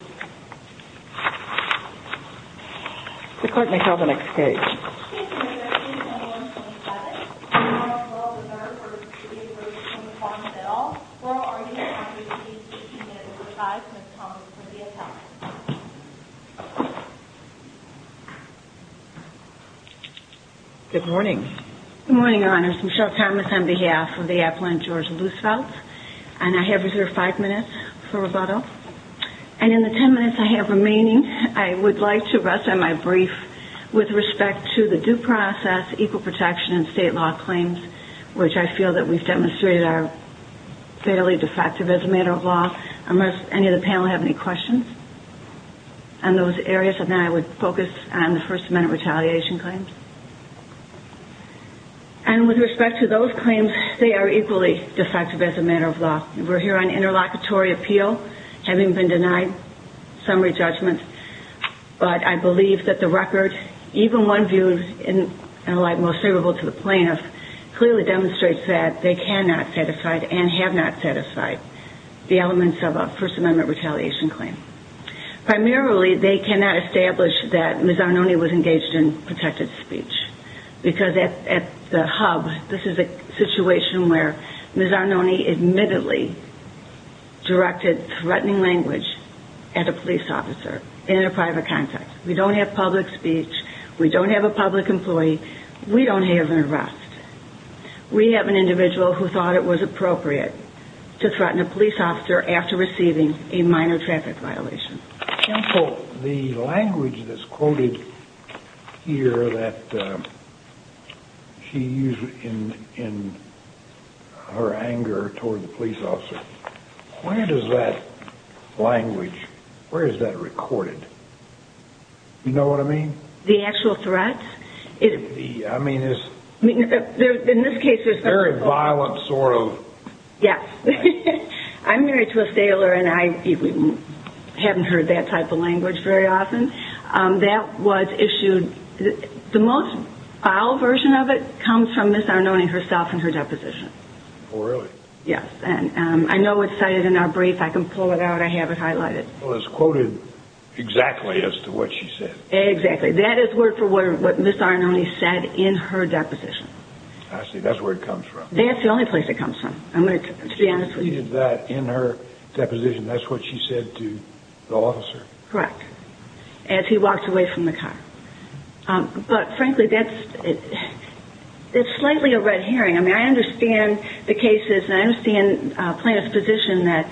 Bill. We're already in time to receive 15 minutes to revise Ms. Thomas for the appellant. Good morning. Good morning, Your Honors. Michele Thomas on behalf of the appellant, George And in the 10 minutes I have remaining, I would like to rest on my brief with respect to the due process, equal protection, and state law claims, which I feel that we've demonstrated are fairly defective as a matter of law. Unless any of the panel have any questions on those areas, then I would focus on the First Amendment retaliation claims. And with respect to those claims, they are equally defective as a matter of law. We're here on interlocutory appeal, having been denied summary judgment, but I believe that the record, even one viewed in a light most favorable to the plaintiff, clearly demonstrates that they cannot satisfy and have not satisfied the elements of a First Amendment retaliation claim. Primarily, they cannot establish that Ms. Arnone was engaged in protected speech. Because at the hub, this is a situation where Ms. Arnone admittedly directed threatening language at a police officer in a private context. We don't have public speech. We don't have a public employee. We don't have an arrest. We have an individual who thought it was appropriate to threaten a police officer after receiving a minor traffic violation. Counsel, the language that's quoted here that she used in her anger toward the police officer, where does that language, where is that recorded? Do you know what I mean? The actual threats? I mean, is... In this case, there's... Very violent sort of... Yes. I'm married to a sailor, and I haven't heard that type of language very often. That was issued... The most vile version of it comes from Ms. Arnone herself in her deposition. Oh, really? Yes, and I know it's cited in our brief. I can pull it out. I have it highlighted. Well, it's quoted exactly as to what she said. Exactly. That is word for word what Ms. Arnone said in her deposition. I see. That's where it comes from. That's the only place it comes from. I'm going to... She did that in her deposition. That's what she said to the officer. Correct. As he walked away from the car. But frankly, that's... It's slightly a red herring. I mean, I understand the cases, and I understand Plaintiff's position that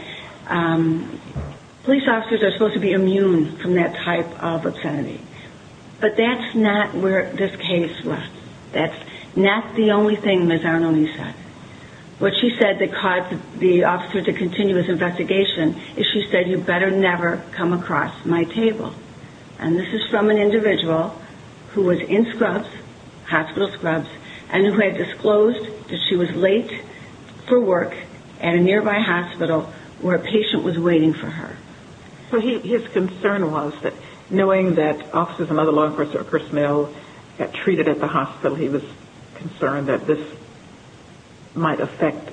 police officers are supposed to be immune from that type of obscenity. But that's not where this case left. That's not the only thing Ms. Arnone said. What she said that caused the officer to continue his investigation is she said, you better never come across my table. And this is from an individual who was in scrubs, hospital scrubs, and who had disclosed that she was late for work at a nearby hospital where a patient was waiting for her. So his concern was that knowing that officers and other law enforcers like Chris Mill got treated at the hospital, he was concerned that this might affect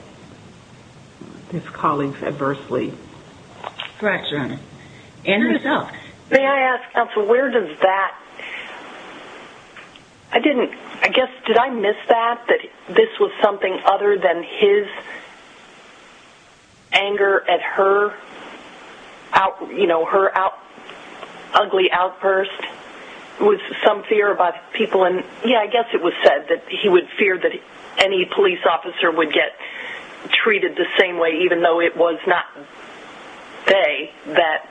his colleagues adversely. Correct, Your Honor. And herself. May I ask, counsel, where does that... I didn't... I guess, did I miss that? That this was something other than his anger at her, you know, her ugly outburst? Was some fear about people in... Yeah, I guess it was said that he would fear that any police officer would get treated the same way, even though it was not they that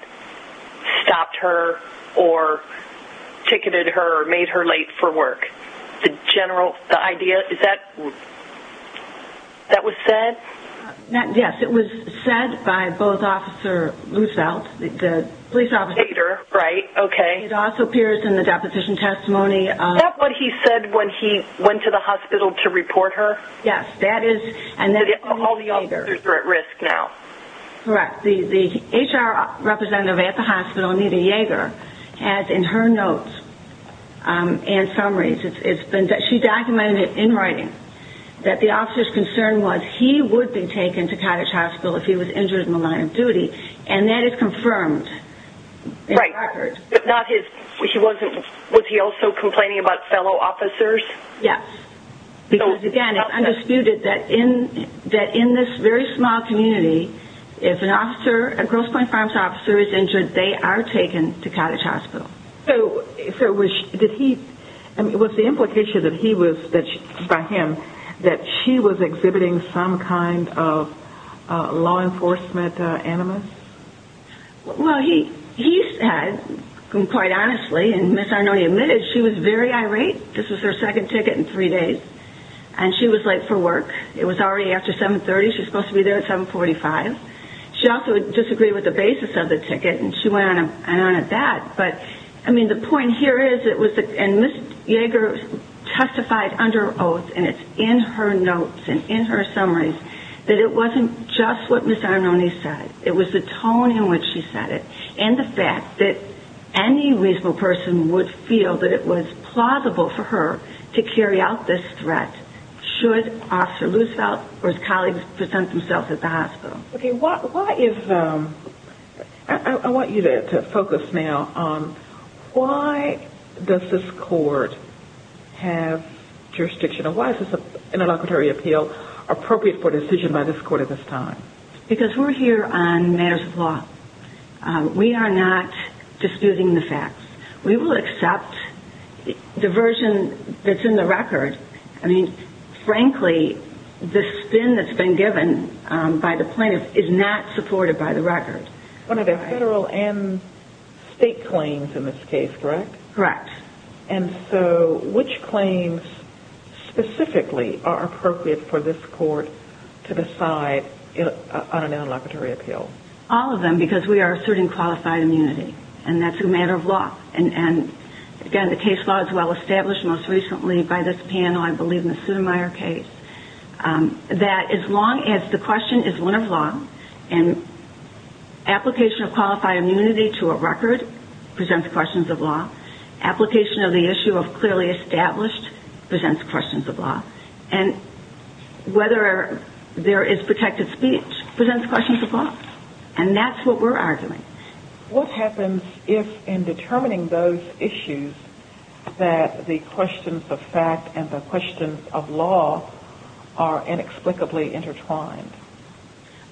stopped her or ticketed her or made her late for work. The general... The idea... Is that... That was said? Yes, it was said by both Officer Luzelt, the police officer. Yager, right, okay. It also appears in the deposition testimony of... Is that what he said when he went to the hospital to report her? Yes, that is... And all the officers are at risk now. Correct. The HR representative at the hospital, Anita Yager, has in her notes and summaries, it's been... She documented in writing that the officer's concern was he would be taken to Cottage Hospital if he was injured in the line of duty, and that is confirmed in the record. Right, but not his... She wasn't... Was he also complaining about fellow officers? Yes, because, again, it's undisputed that in this very small community, if an officer, a Grosse Pointe Farms officer is injured, they are taken to Cottage Hospital. So, did he... I mean, what's the implication that he was... By him, that she was exhibiting some kind of law enforcement animus? Well, he said, quite honestly, and Ms. Arnone admitted, she was very irate. This was her second ticket in three days, and she was late for work. It was already after 7.30. She was supposed to be there at 7.45. She also disagreed with the basis of the ticket, and she went on and on at that. But, I mean, the point here is, it was... And Ms. Jaeger testified under oath, and it's in her notes and in her summaries, that it wasn't just what Ms. Arnone said. It was the tone in which she said it, and the fact that any reasonable person would feel that it was plausible for her to carry out this threat should Officer Roosevelt or his colleagues present themselves at the hospital. Okay, what is... I want you to focus now on why does this court have jurisdiction, or why is this interlocutory appeal appropriate for a decision by this court at this time? Because we're here on matters of law. We are not disputing the facts. We will accept diversion that's in the record. I mean, frankly, the spin that's been given by the plaintiff is not supported by the record. One of the federal and state claims in this case, correct? Correct. And so, which claims specifically are appropriate for this court to decide on an interlocutory appeal? All of them, because we are asserting qualified immunity, and that's a matter of law. And, again, the case law is well-established most recently by this panel, I believe, in the Sotomayor case, that as long as the question is one of law and application of qualified immunity to a record presents questions of law, application of the issue of clearly established presents questions of law, and whether there is protected speech presents questions of law, and that's what we're arguing. What happens if, in determining those issues, that the questions of fact and the questions of law are inexplicably intertwined?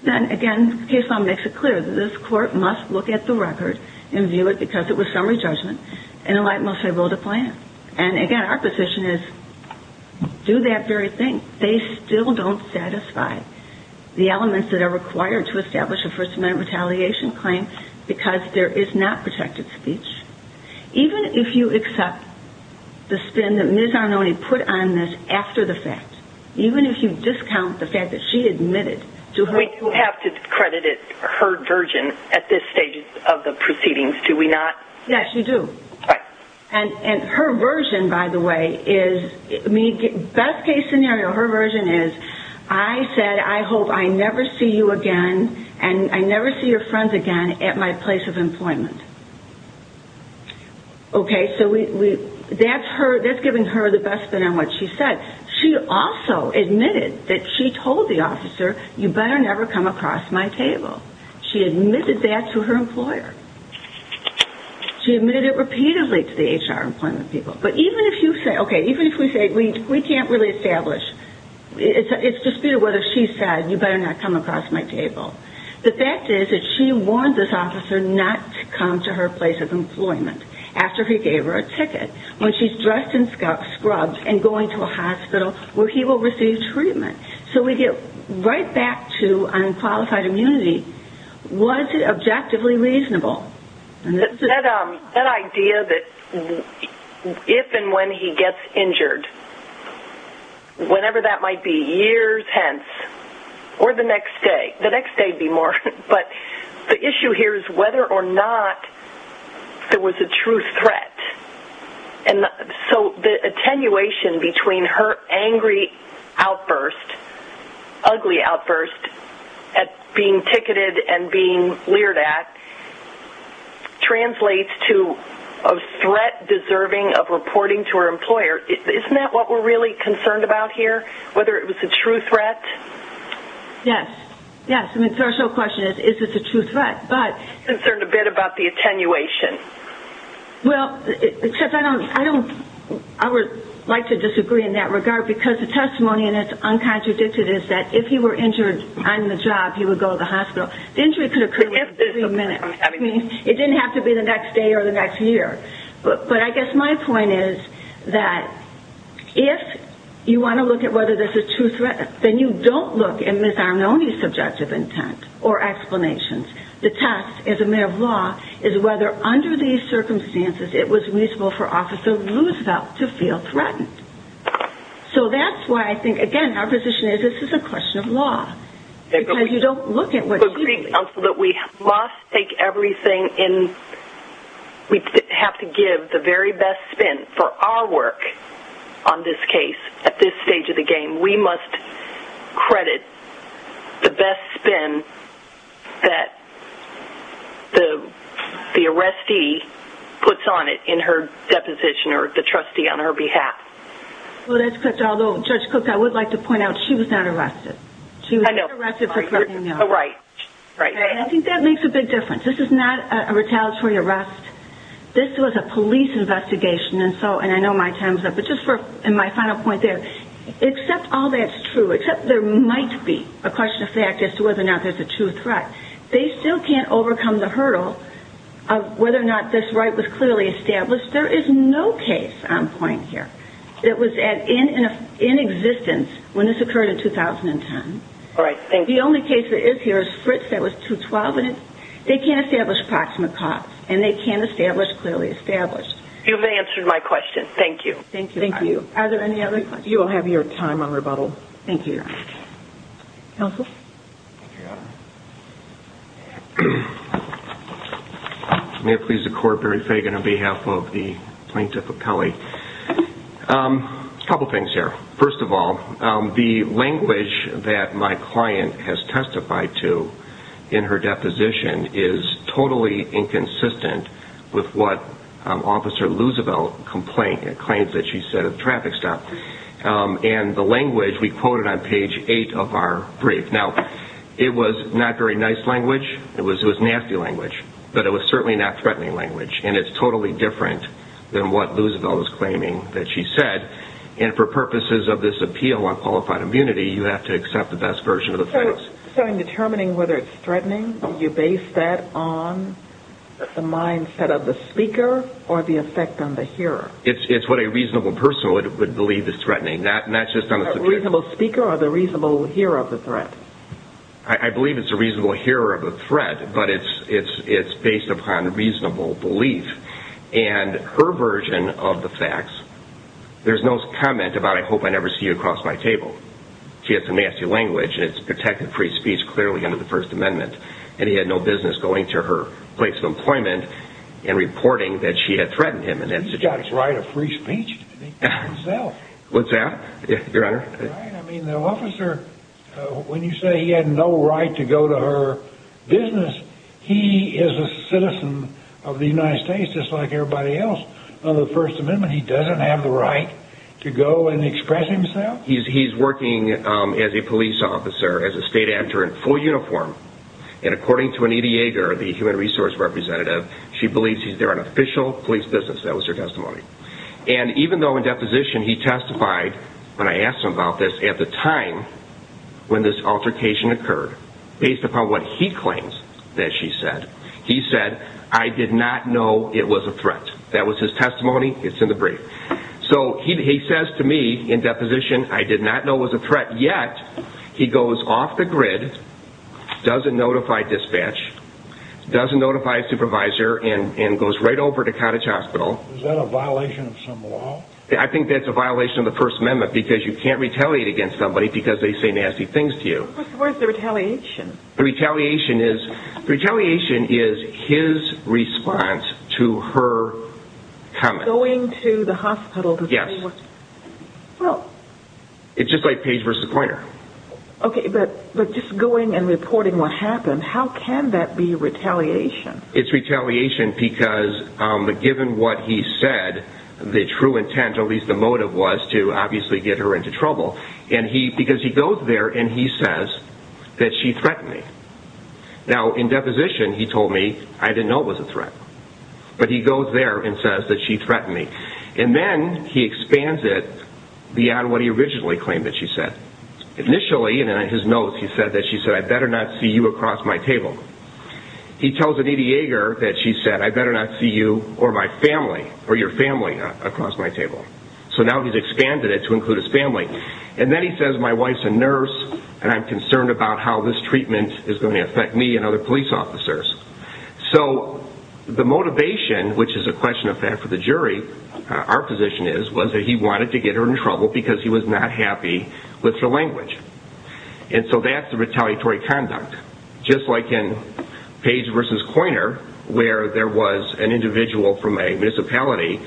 Then, again, the case law makes it clear that this court must look at the record and view it because it was summary judgment, and the light must have rolled a plan. And, again, our position is, do that very thing. They still don't satisfy the elements that are required to establish a First Amendment retaliation claim because there is not protected speech. Even if you accept the spin that Ms. Arnone put on this after the fact, even if you discount the fact that she admitted to her... We do have to credit her version at this stage of the proceedings, do we not? Yes, you do. Right. And her version, by the way, is... Best case scenario, her version is, I said, I hope I never see you again and I never see your friends again at my place of employment. Okay, so that's giving her the best spin on what she said. She also admitted that she told the officer, you better never come across my table. She admitted that to her employer. She admitted it repeatedly to the HR employment people. But even if you say, okay, even if we say, we can't really establish... It's disputed whether she said, you better not come across my table. The fact is that she warned this officer not to come to her place of employment after he gave her a ticket, when she's dressed in scrubs and going to a hospital where he will receive treatment. So we get right back to unqualified immunity. Was it objectively reasonable? That idea that if and when he gets injured, whenever that might be, years hence, or the next day. The next day would be more. But the issue here is whether or not there was a true threat. So the attenuation between her angry outburst, ugly outburst, at being ticketed and being leered at, translates to a threat deserving of reporting to her employer. Isn't that what we're really concerned about here, whether it was a true threat? Yes. Yes. The initial question is, is this a true threat? I'm concerned a bit about the attenuation. Well, I would like to disagree in that regard, because the testimony, and it's uncontradicted, is that if he were injured on the job, he would go to the hospital. The injury could have occurred within a minute. It didn't have to be the next day or the next year. But I guess my point is that if you want to look at whether this is a true threat, then you don't look at Ms. Arnone's subjective intent or explanations. The test, as a mayor of law, is whether under these circumstances it was reasonable for Officer Roosevelt to feel threatened. So that's why I think, again, our position is this is a question of law, because you don't look at what she did. I agree, counsel, that we must take everything in. We have to give the very best spin for our work on this case at this stage of the game. We must credit the best spin that the arrestee puts on it in her deposition or the trustee on her behalf. Well, that's correct. Although, Judge Cook, I would like to point out she was not arrested. She was not arrested for threatening me. Right. I think that makes a big difference. This is not a retaliatory arrest. This was a police investigation, and I know my time is up. But just for my final point there, except all that's true, except there might be a question of fact as to whether or not there's a true threat, they still can't overcome the hurdle of whether or not this right was clearly established. There is no case on point here that was in existence when this occurred in 2010. All right. Thank you. The only case that is here is Fritz that was 212, and they can't establish proximate cause, and they can't establish clearly established. You've answered my question. Thank you. Thank you. Are there any other questions? You will have your time on rebuttal. Thank you. Counsel? Thank you, Your Honor. May it please the Court, Barry Fagan on behalf of the Plaintiff Appellee. A couple things here. First of all, the language that my client has testified to in her deposition is totally inconsistent with what Officer Loosevelt claims that she said at the traffic stop. And the language we quoted on page 8 of our brief. Now, it was not very nice language. It was nasty language, but it was certainly not threatening language, and it's totally different than what Loosevelt was claiming that she said. And for purposes of this appeal on qualified immunity, you have to accept the best version of the facts. So in determining whether it's threatening, do you base that on the mindset of the speaker or the effect on the hearer? It's what a reasonable person would believe is threatening, not just on the subject. A reasonable speaker or the reasonable hearer of the threat? I believe it's a reasonable hearer of the threat, but it's based upon reasonable belief. And her version of the facts, there's no comment about, I hope I never see you across my table. She has some nasty language, and it's protected free speech clearly under the First Amendment. And he had no business going to her place of employment and reporting that she had threatened him. He's got the right of free speech to speak for himself. What's that, Your Honor? I mean, the officer, when you say he had no right to go to her business, he is a citizen of the United States just like everybody else. Under the First Amendment, he doesn't have the right to go and express himself. He's working as a police officer, as a state actor in full uniform. And according to Anita Yeager, the human resource representative, she believes he's there on official police business. That was her testimony. And even though in deposition he testified, when I asked him about this, at the time when this altercation occurred, based upon what he claims that she said, he said, I did not know it was a threat. That was his testimony. It's in the brief. So he says to me in deposition, I did not know it was a threat. Yet, he goes off the grid, doesn't notify dispatch, doesn't notify his supervisor, and goes right over to Cottage Hospital. Is that a violation of some law? I think that's a violation of the First Amendment because you can't retaliate against somebody because they say nasty things to you. What's the word for retaliation? Retaliation is his response to her coming. Going to the hospital to say what? Yes. It's just like page versus pointer. Okay, but just going and reporting what happened, how can that be retaliation? It's retaliation because given what he said, the true intent, at least the motive was to obviously get her into trouble. And because he goes there and he says that she threatened me. Now, in deposition, he told me, I didn't know it was a threat. But he goes there and says that she threatened me. And then he expands it beyond what he originally claimed that she said. Initially, in his notes, he said that she said, I better not see you across my table. He tells Anita Yeager that she said, I better not see you or my family or your family across my table. So now he's expanded it to include his family. And then he says, my wife's a nurse, and I'm concerned about how this treatment is going to affect me and other police officers. So the motivation, which is a question of fact for the jury, our position is, was that he wanted to get her in trouble because he was not happy with her language. And so that's the retaliatory conduct. Just like in page versus pointer, where there was an individual from a municipality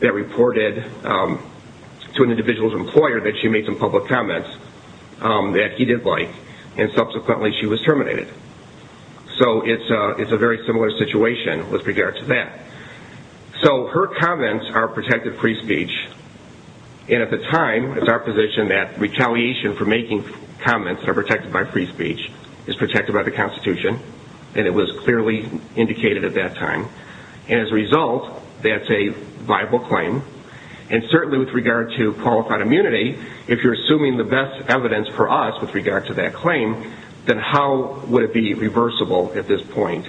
that reported to an individual's employer that she made some public comments that he did like, and subsequently she was terminated. So it's a very similar situation with regard to that. So her comments are protected free speech. And at the time, it's our position that retaliation for making comments that are protected by free speech is protected by the Constitution, and it was clearly indicated at that time. And as a result, that's a viable claim. And certainly with regard to qualified immunity, if you're assuming the best evidence for us with regard to that claim, then how would it be reversible at this point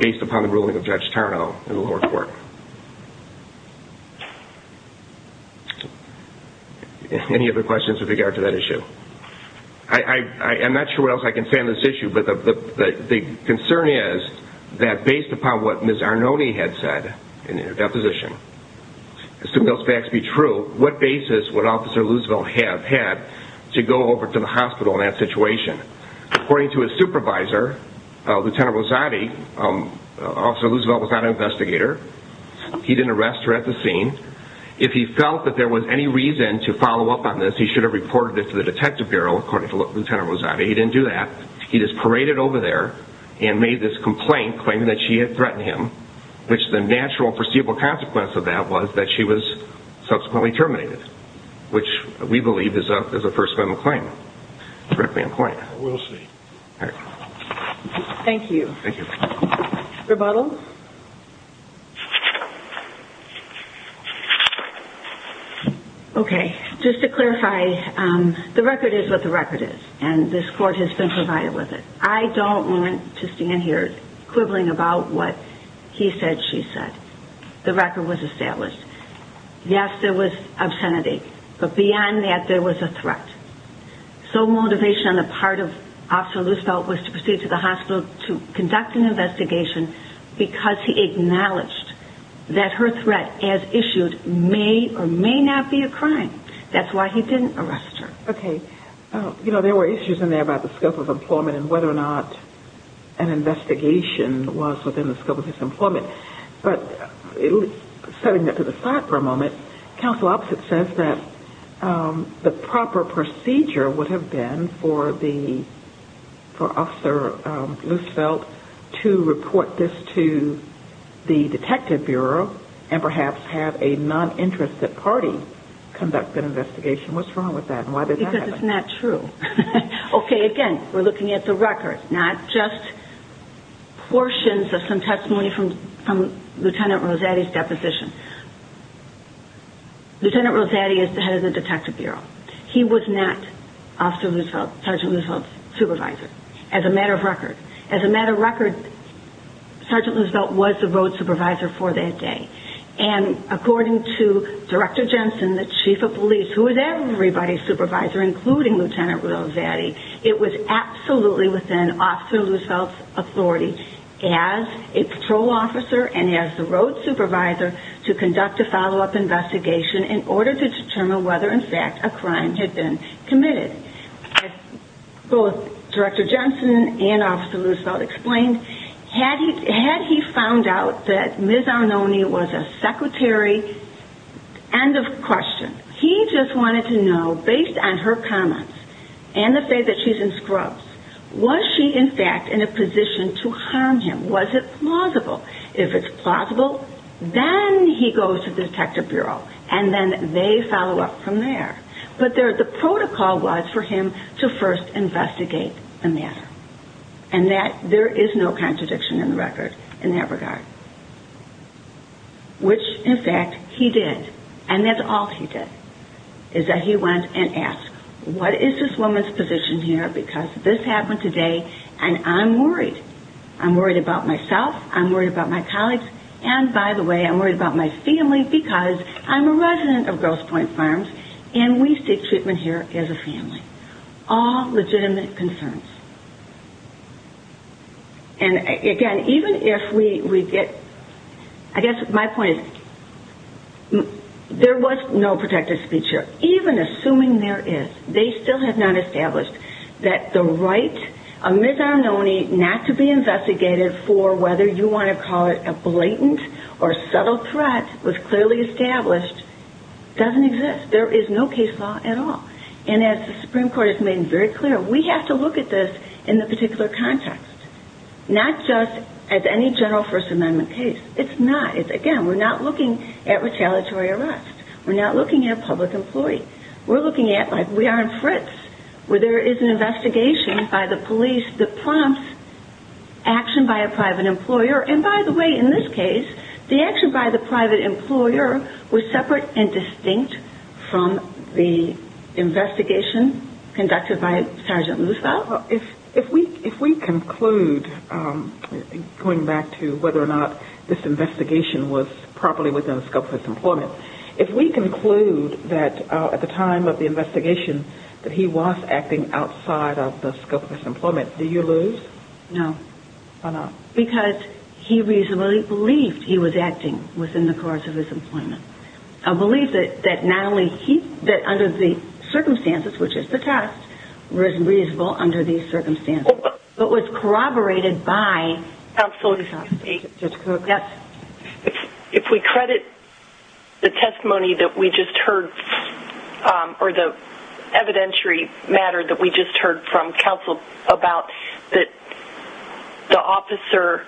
based upon the ruling of Judge Tarnow in the lower court? Any other questions with regard to that issue? I'm not sure what else I can say on this issue, but the concern is that based upon what Ms. Arnone had said in her deposition, as soon as those facts be true, what basis would Officer Loosevelt have had to go over to the hospital in that situation? According to his supervisor, Lieutenant Rosati, Officer Loosevelt was not an investigator. He didn't arrest her at the scene. If he felt that there was any reason to follow up on this, he should have reported it to the Detective Bureau, according to Lieutenant Rosati. He didn't do that. He just paraded over there and made this complaint claiming that she had threatened him, which the natural, perceivable consequence of that was that she was subsequently terminated, which we believe is a First Amendment claim. Thank you. Thank you. Rebuttals? Okay, just to clarify, the record is what the record is, and this court has been provided with it. I don't want to stand here quibbling about what he said, she said. The record was established. Yes, there was obscenity, but beyond that, there was a threat. So motivation on the part of Officer Loosevelt was to proceed to the hospital to conduct an investigation because he acknowledged that her threat as issued may or may not be a crime. That's why he didn't arrest her. Okay. You know, there were issues in there about the scope of employment and whether or not an investigation was within the scope of his employment. But setting that to the side for a moment, counsel opposite says that the proper procedure would have been for Officer Loosevelt to report this to the Detective Bureau and perhaps have a non-interested party conduct an investigation. What's wrong with that and why did that happen? Because it's not true. Okay, again, we're looking at the record, not just portions of some testimony from Lieutenant Rosetti's deposition. Lieutenant Rosetti is the head of the Detective Bureau. He was not Officer Loosevelt, Sergeant Loosevelt's supervisor, as a matter of record. As a matter of record, Sergeant Loosevelt was the road supervisor for that day. And according to Director Jensen, the chief of police, who was everybody's supervisor, including Lieutenant Rosetti, it was absolutely within Officer Loosevelt's authority as a patrol officer and as the road supervisor to conduct a follow-up investigation in order to determine whether, in fact, a crime had been committed. As both Director Jensen and Officer Loosevelt explained, had he found out that Ms. Arnone was a secretary, end of question. He just wanted to know, based on her comments and the fact that she's in scrubs, was she, in fact, in a position to harm him? Was it plausible? If it's plausible, then he goes to the Detective Bureau, and then they follow up from there. But the protocol was for him to first investigate the matter. And there is no contradiction in the record in that regard. Which, in fact, he did. And that's all he did, is that he went and asked, what is this woman's position here, because this happened today, and I'm worried. I'm worried about myself. I'm worried about my colleagues. And, by the way, I'm worried about my family, because I'm a resident of Grosse Pointe Farms, and we seek treatment here as a family. All legitimate concerns. And, again, even if we get, I guess my point is, there was no protective speech here, even assuming there is. They still have not established that the right of Ms. Arnone not to be investigated for whether you want to call it a blatant or subtle threat, was clearly established, doesn't exist. There is no case law at all. And as the Supreme Court has made very clear, we have to look at this in the particular context. Not just as any general First Amendment case. It's not. Again, we're not looking at retaliatory arrest. We're not looking at a public employee. We're looking at, like we are in Fritz, where there is an investigation by the police that prompts action by a private employer. And, by the way, in this case, the action by the private employer was separate and distinct from the investigation conducted by Sergeant Luzardo. If we conclude, going back to whether or not this investigation was properly within the scope of his employment, if we conclude that at the time of the investigation that he was acting outside of the scope of his employment, do you lose? No. Why not? Because he reasonably believed he was acting within the course of his employment. A belief that not only he, that under the circumstances, which is the test, was reasonable under these circumstances, but was corroborated by counsel. If we credit the testimony that we just heard, or the evidentiary matter that we just heard from counsel about that the officer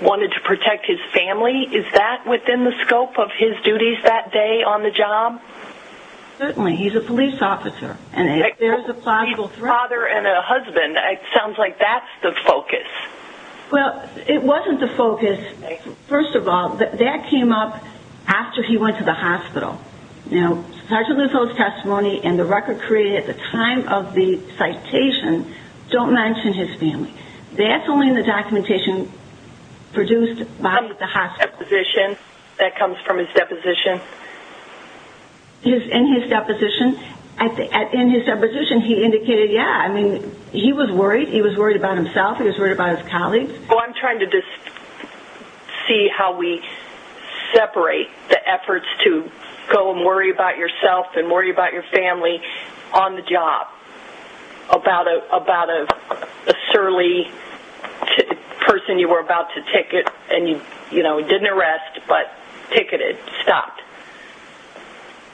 wanted to protect his family, is that within the scope of his duties that day on the job? Certainly. He's a police officer, and there's a possible threat. A father and a husband. It sounds like that's the focus. Well, it wasn't the focus, first of all. Now, Sergeant Luzardo's testimony and the record created at the time of the citation don't mention his family. That's only in the documentation produced by the hospital. That comes from his deposition? In his deposition. In his deposition, he indicated, yeah, I mean, he was worried. He was worried about himself. He was worried about his colleagues. Well, I'm trying to just see how we separate the efforts to go and worry about yourself and worry about your family on the job about a surly person you were about to ticket and you didn't arrest, but ticketed, stopped.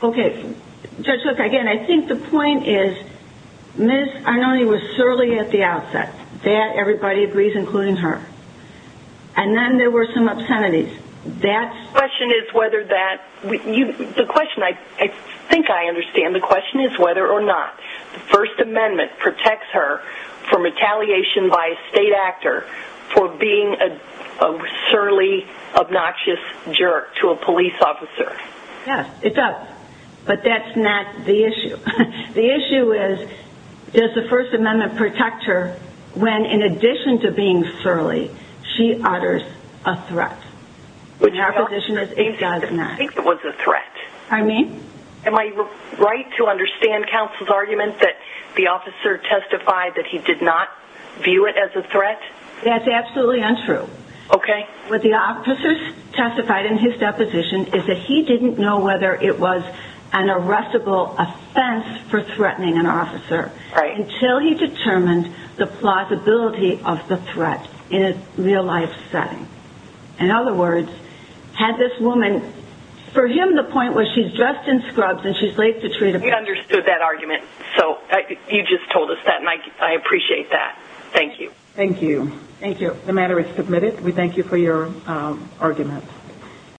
Okay. Judge Hook, again, I think the point is Ms. Arnone was surly at the outset. That everybody agrees, including her. And then there were some obscenities. The question is whether that – the question I think I understand. The question is whether or not the First Amendment protects her from retaliation by a state actor for being a surly, obnoxious jerk to a police officer. Yes, it does. But that's not the issue. The issue is, does the First Amendment protect her when, in addition to being surly, she utters a threat? In her position, it does not. I think it was a threat. Pardon me? Am I right to understand counsel's argument that the officer testified that he did not view it as a threat? That's absolutely untrue. Okay. What the officer testified in his deposition is that he didn't know whether it was an arrestable offense for threatening an officer until he determined the plausibility of the threat in a real-life setting. In other words, had this woman – for him, the point was she's dressed in scrubs and she's late to treat a patient. We understood that argument. So you just told us that, and I appreciate that. Thank you. Thank you. Thank you. The matter is submitted. We thank you for your argument.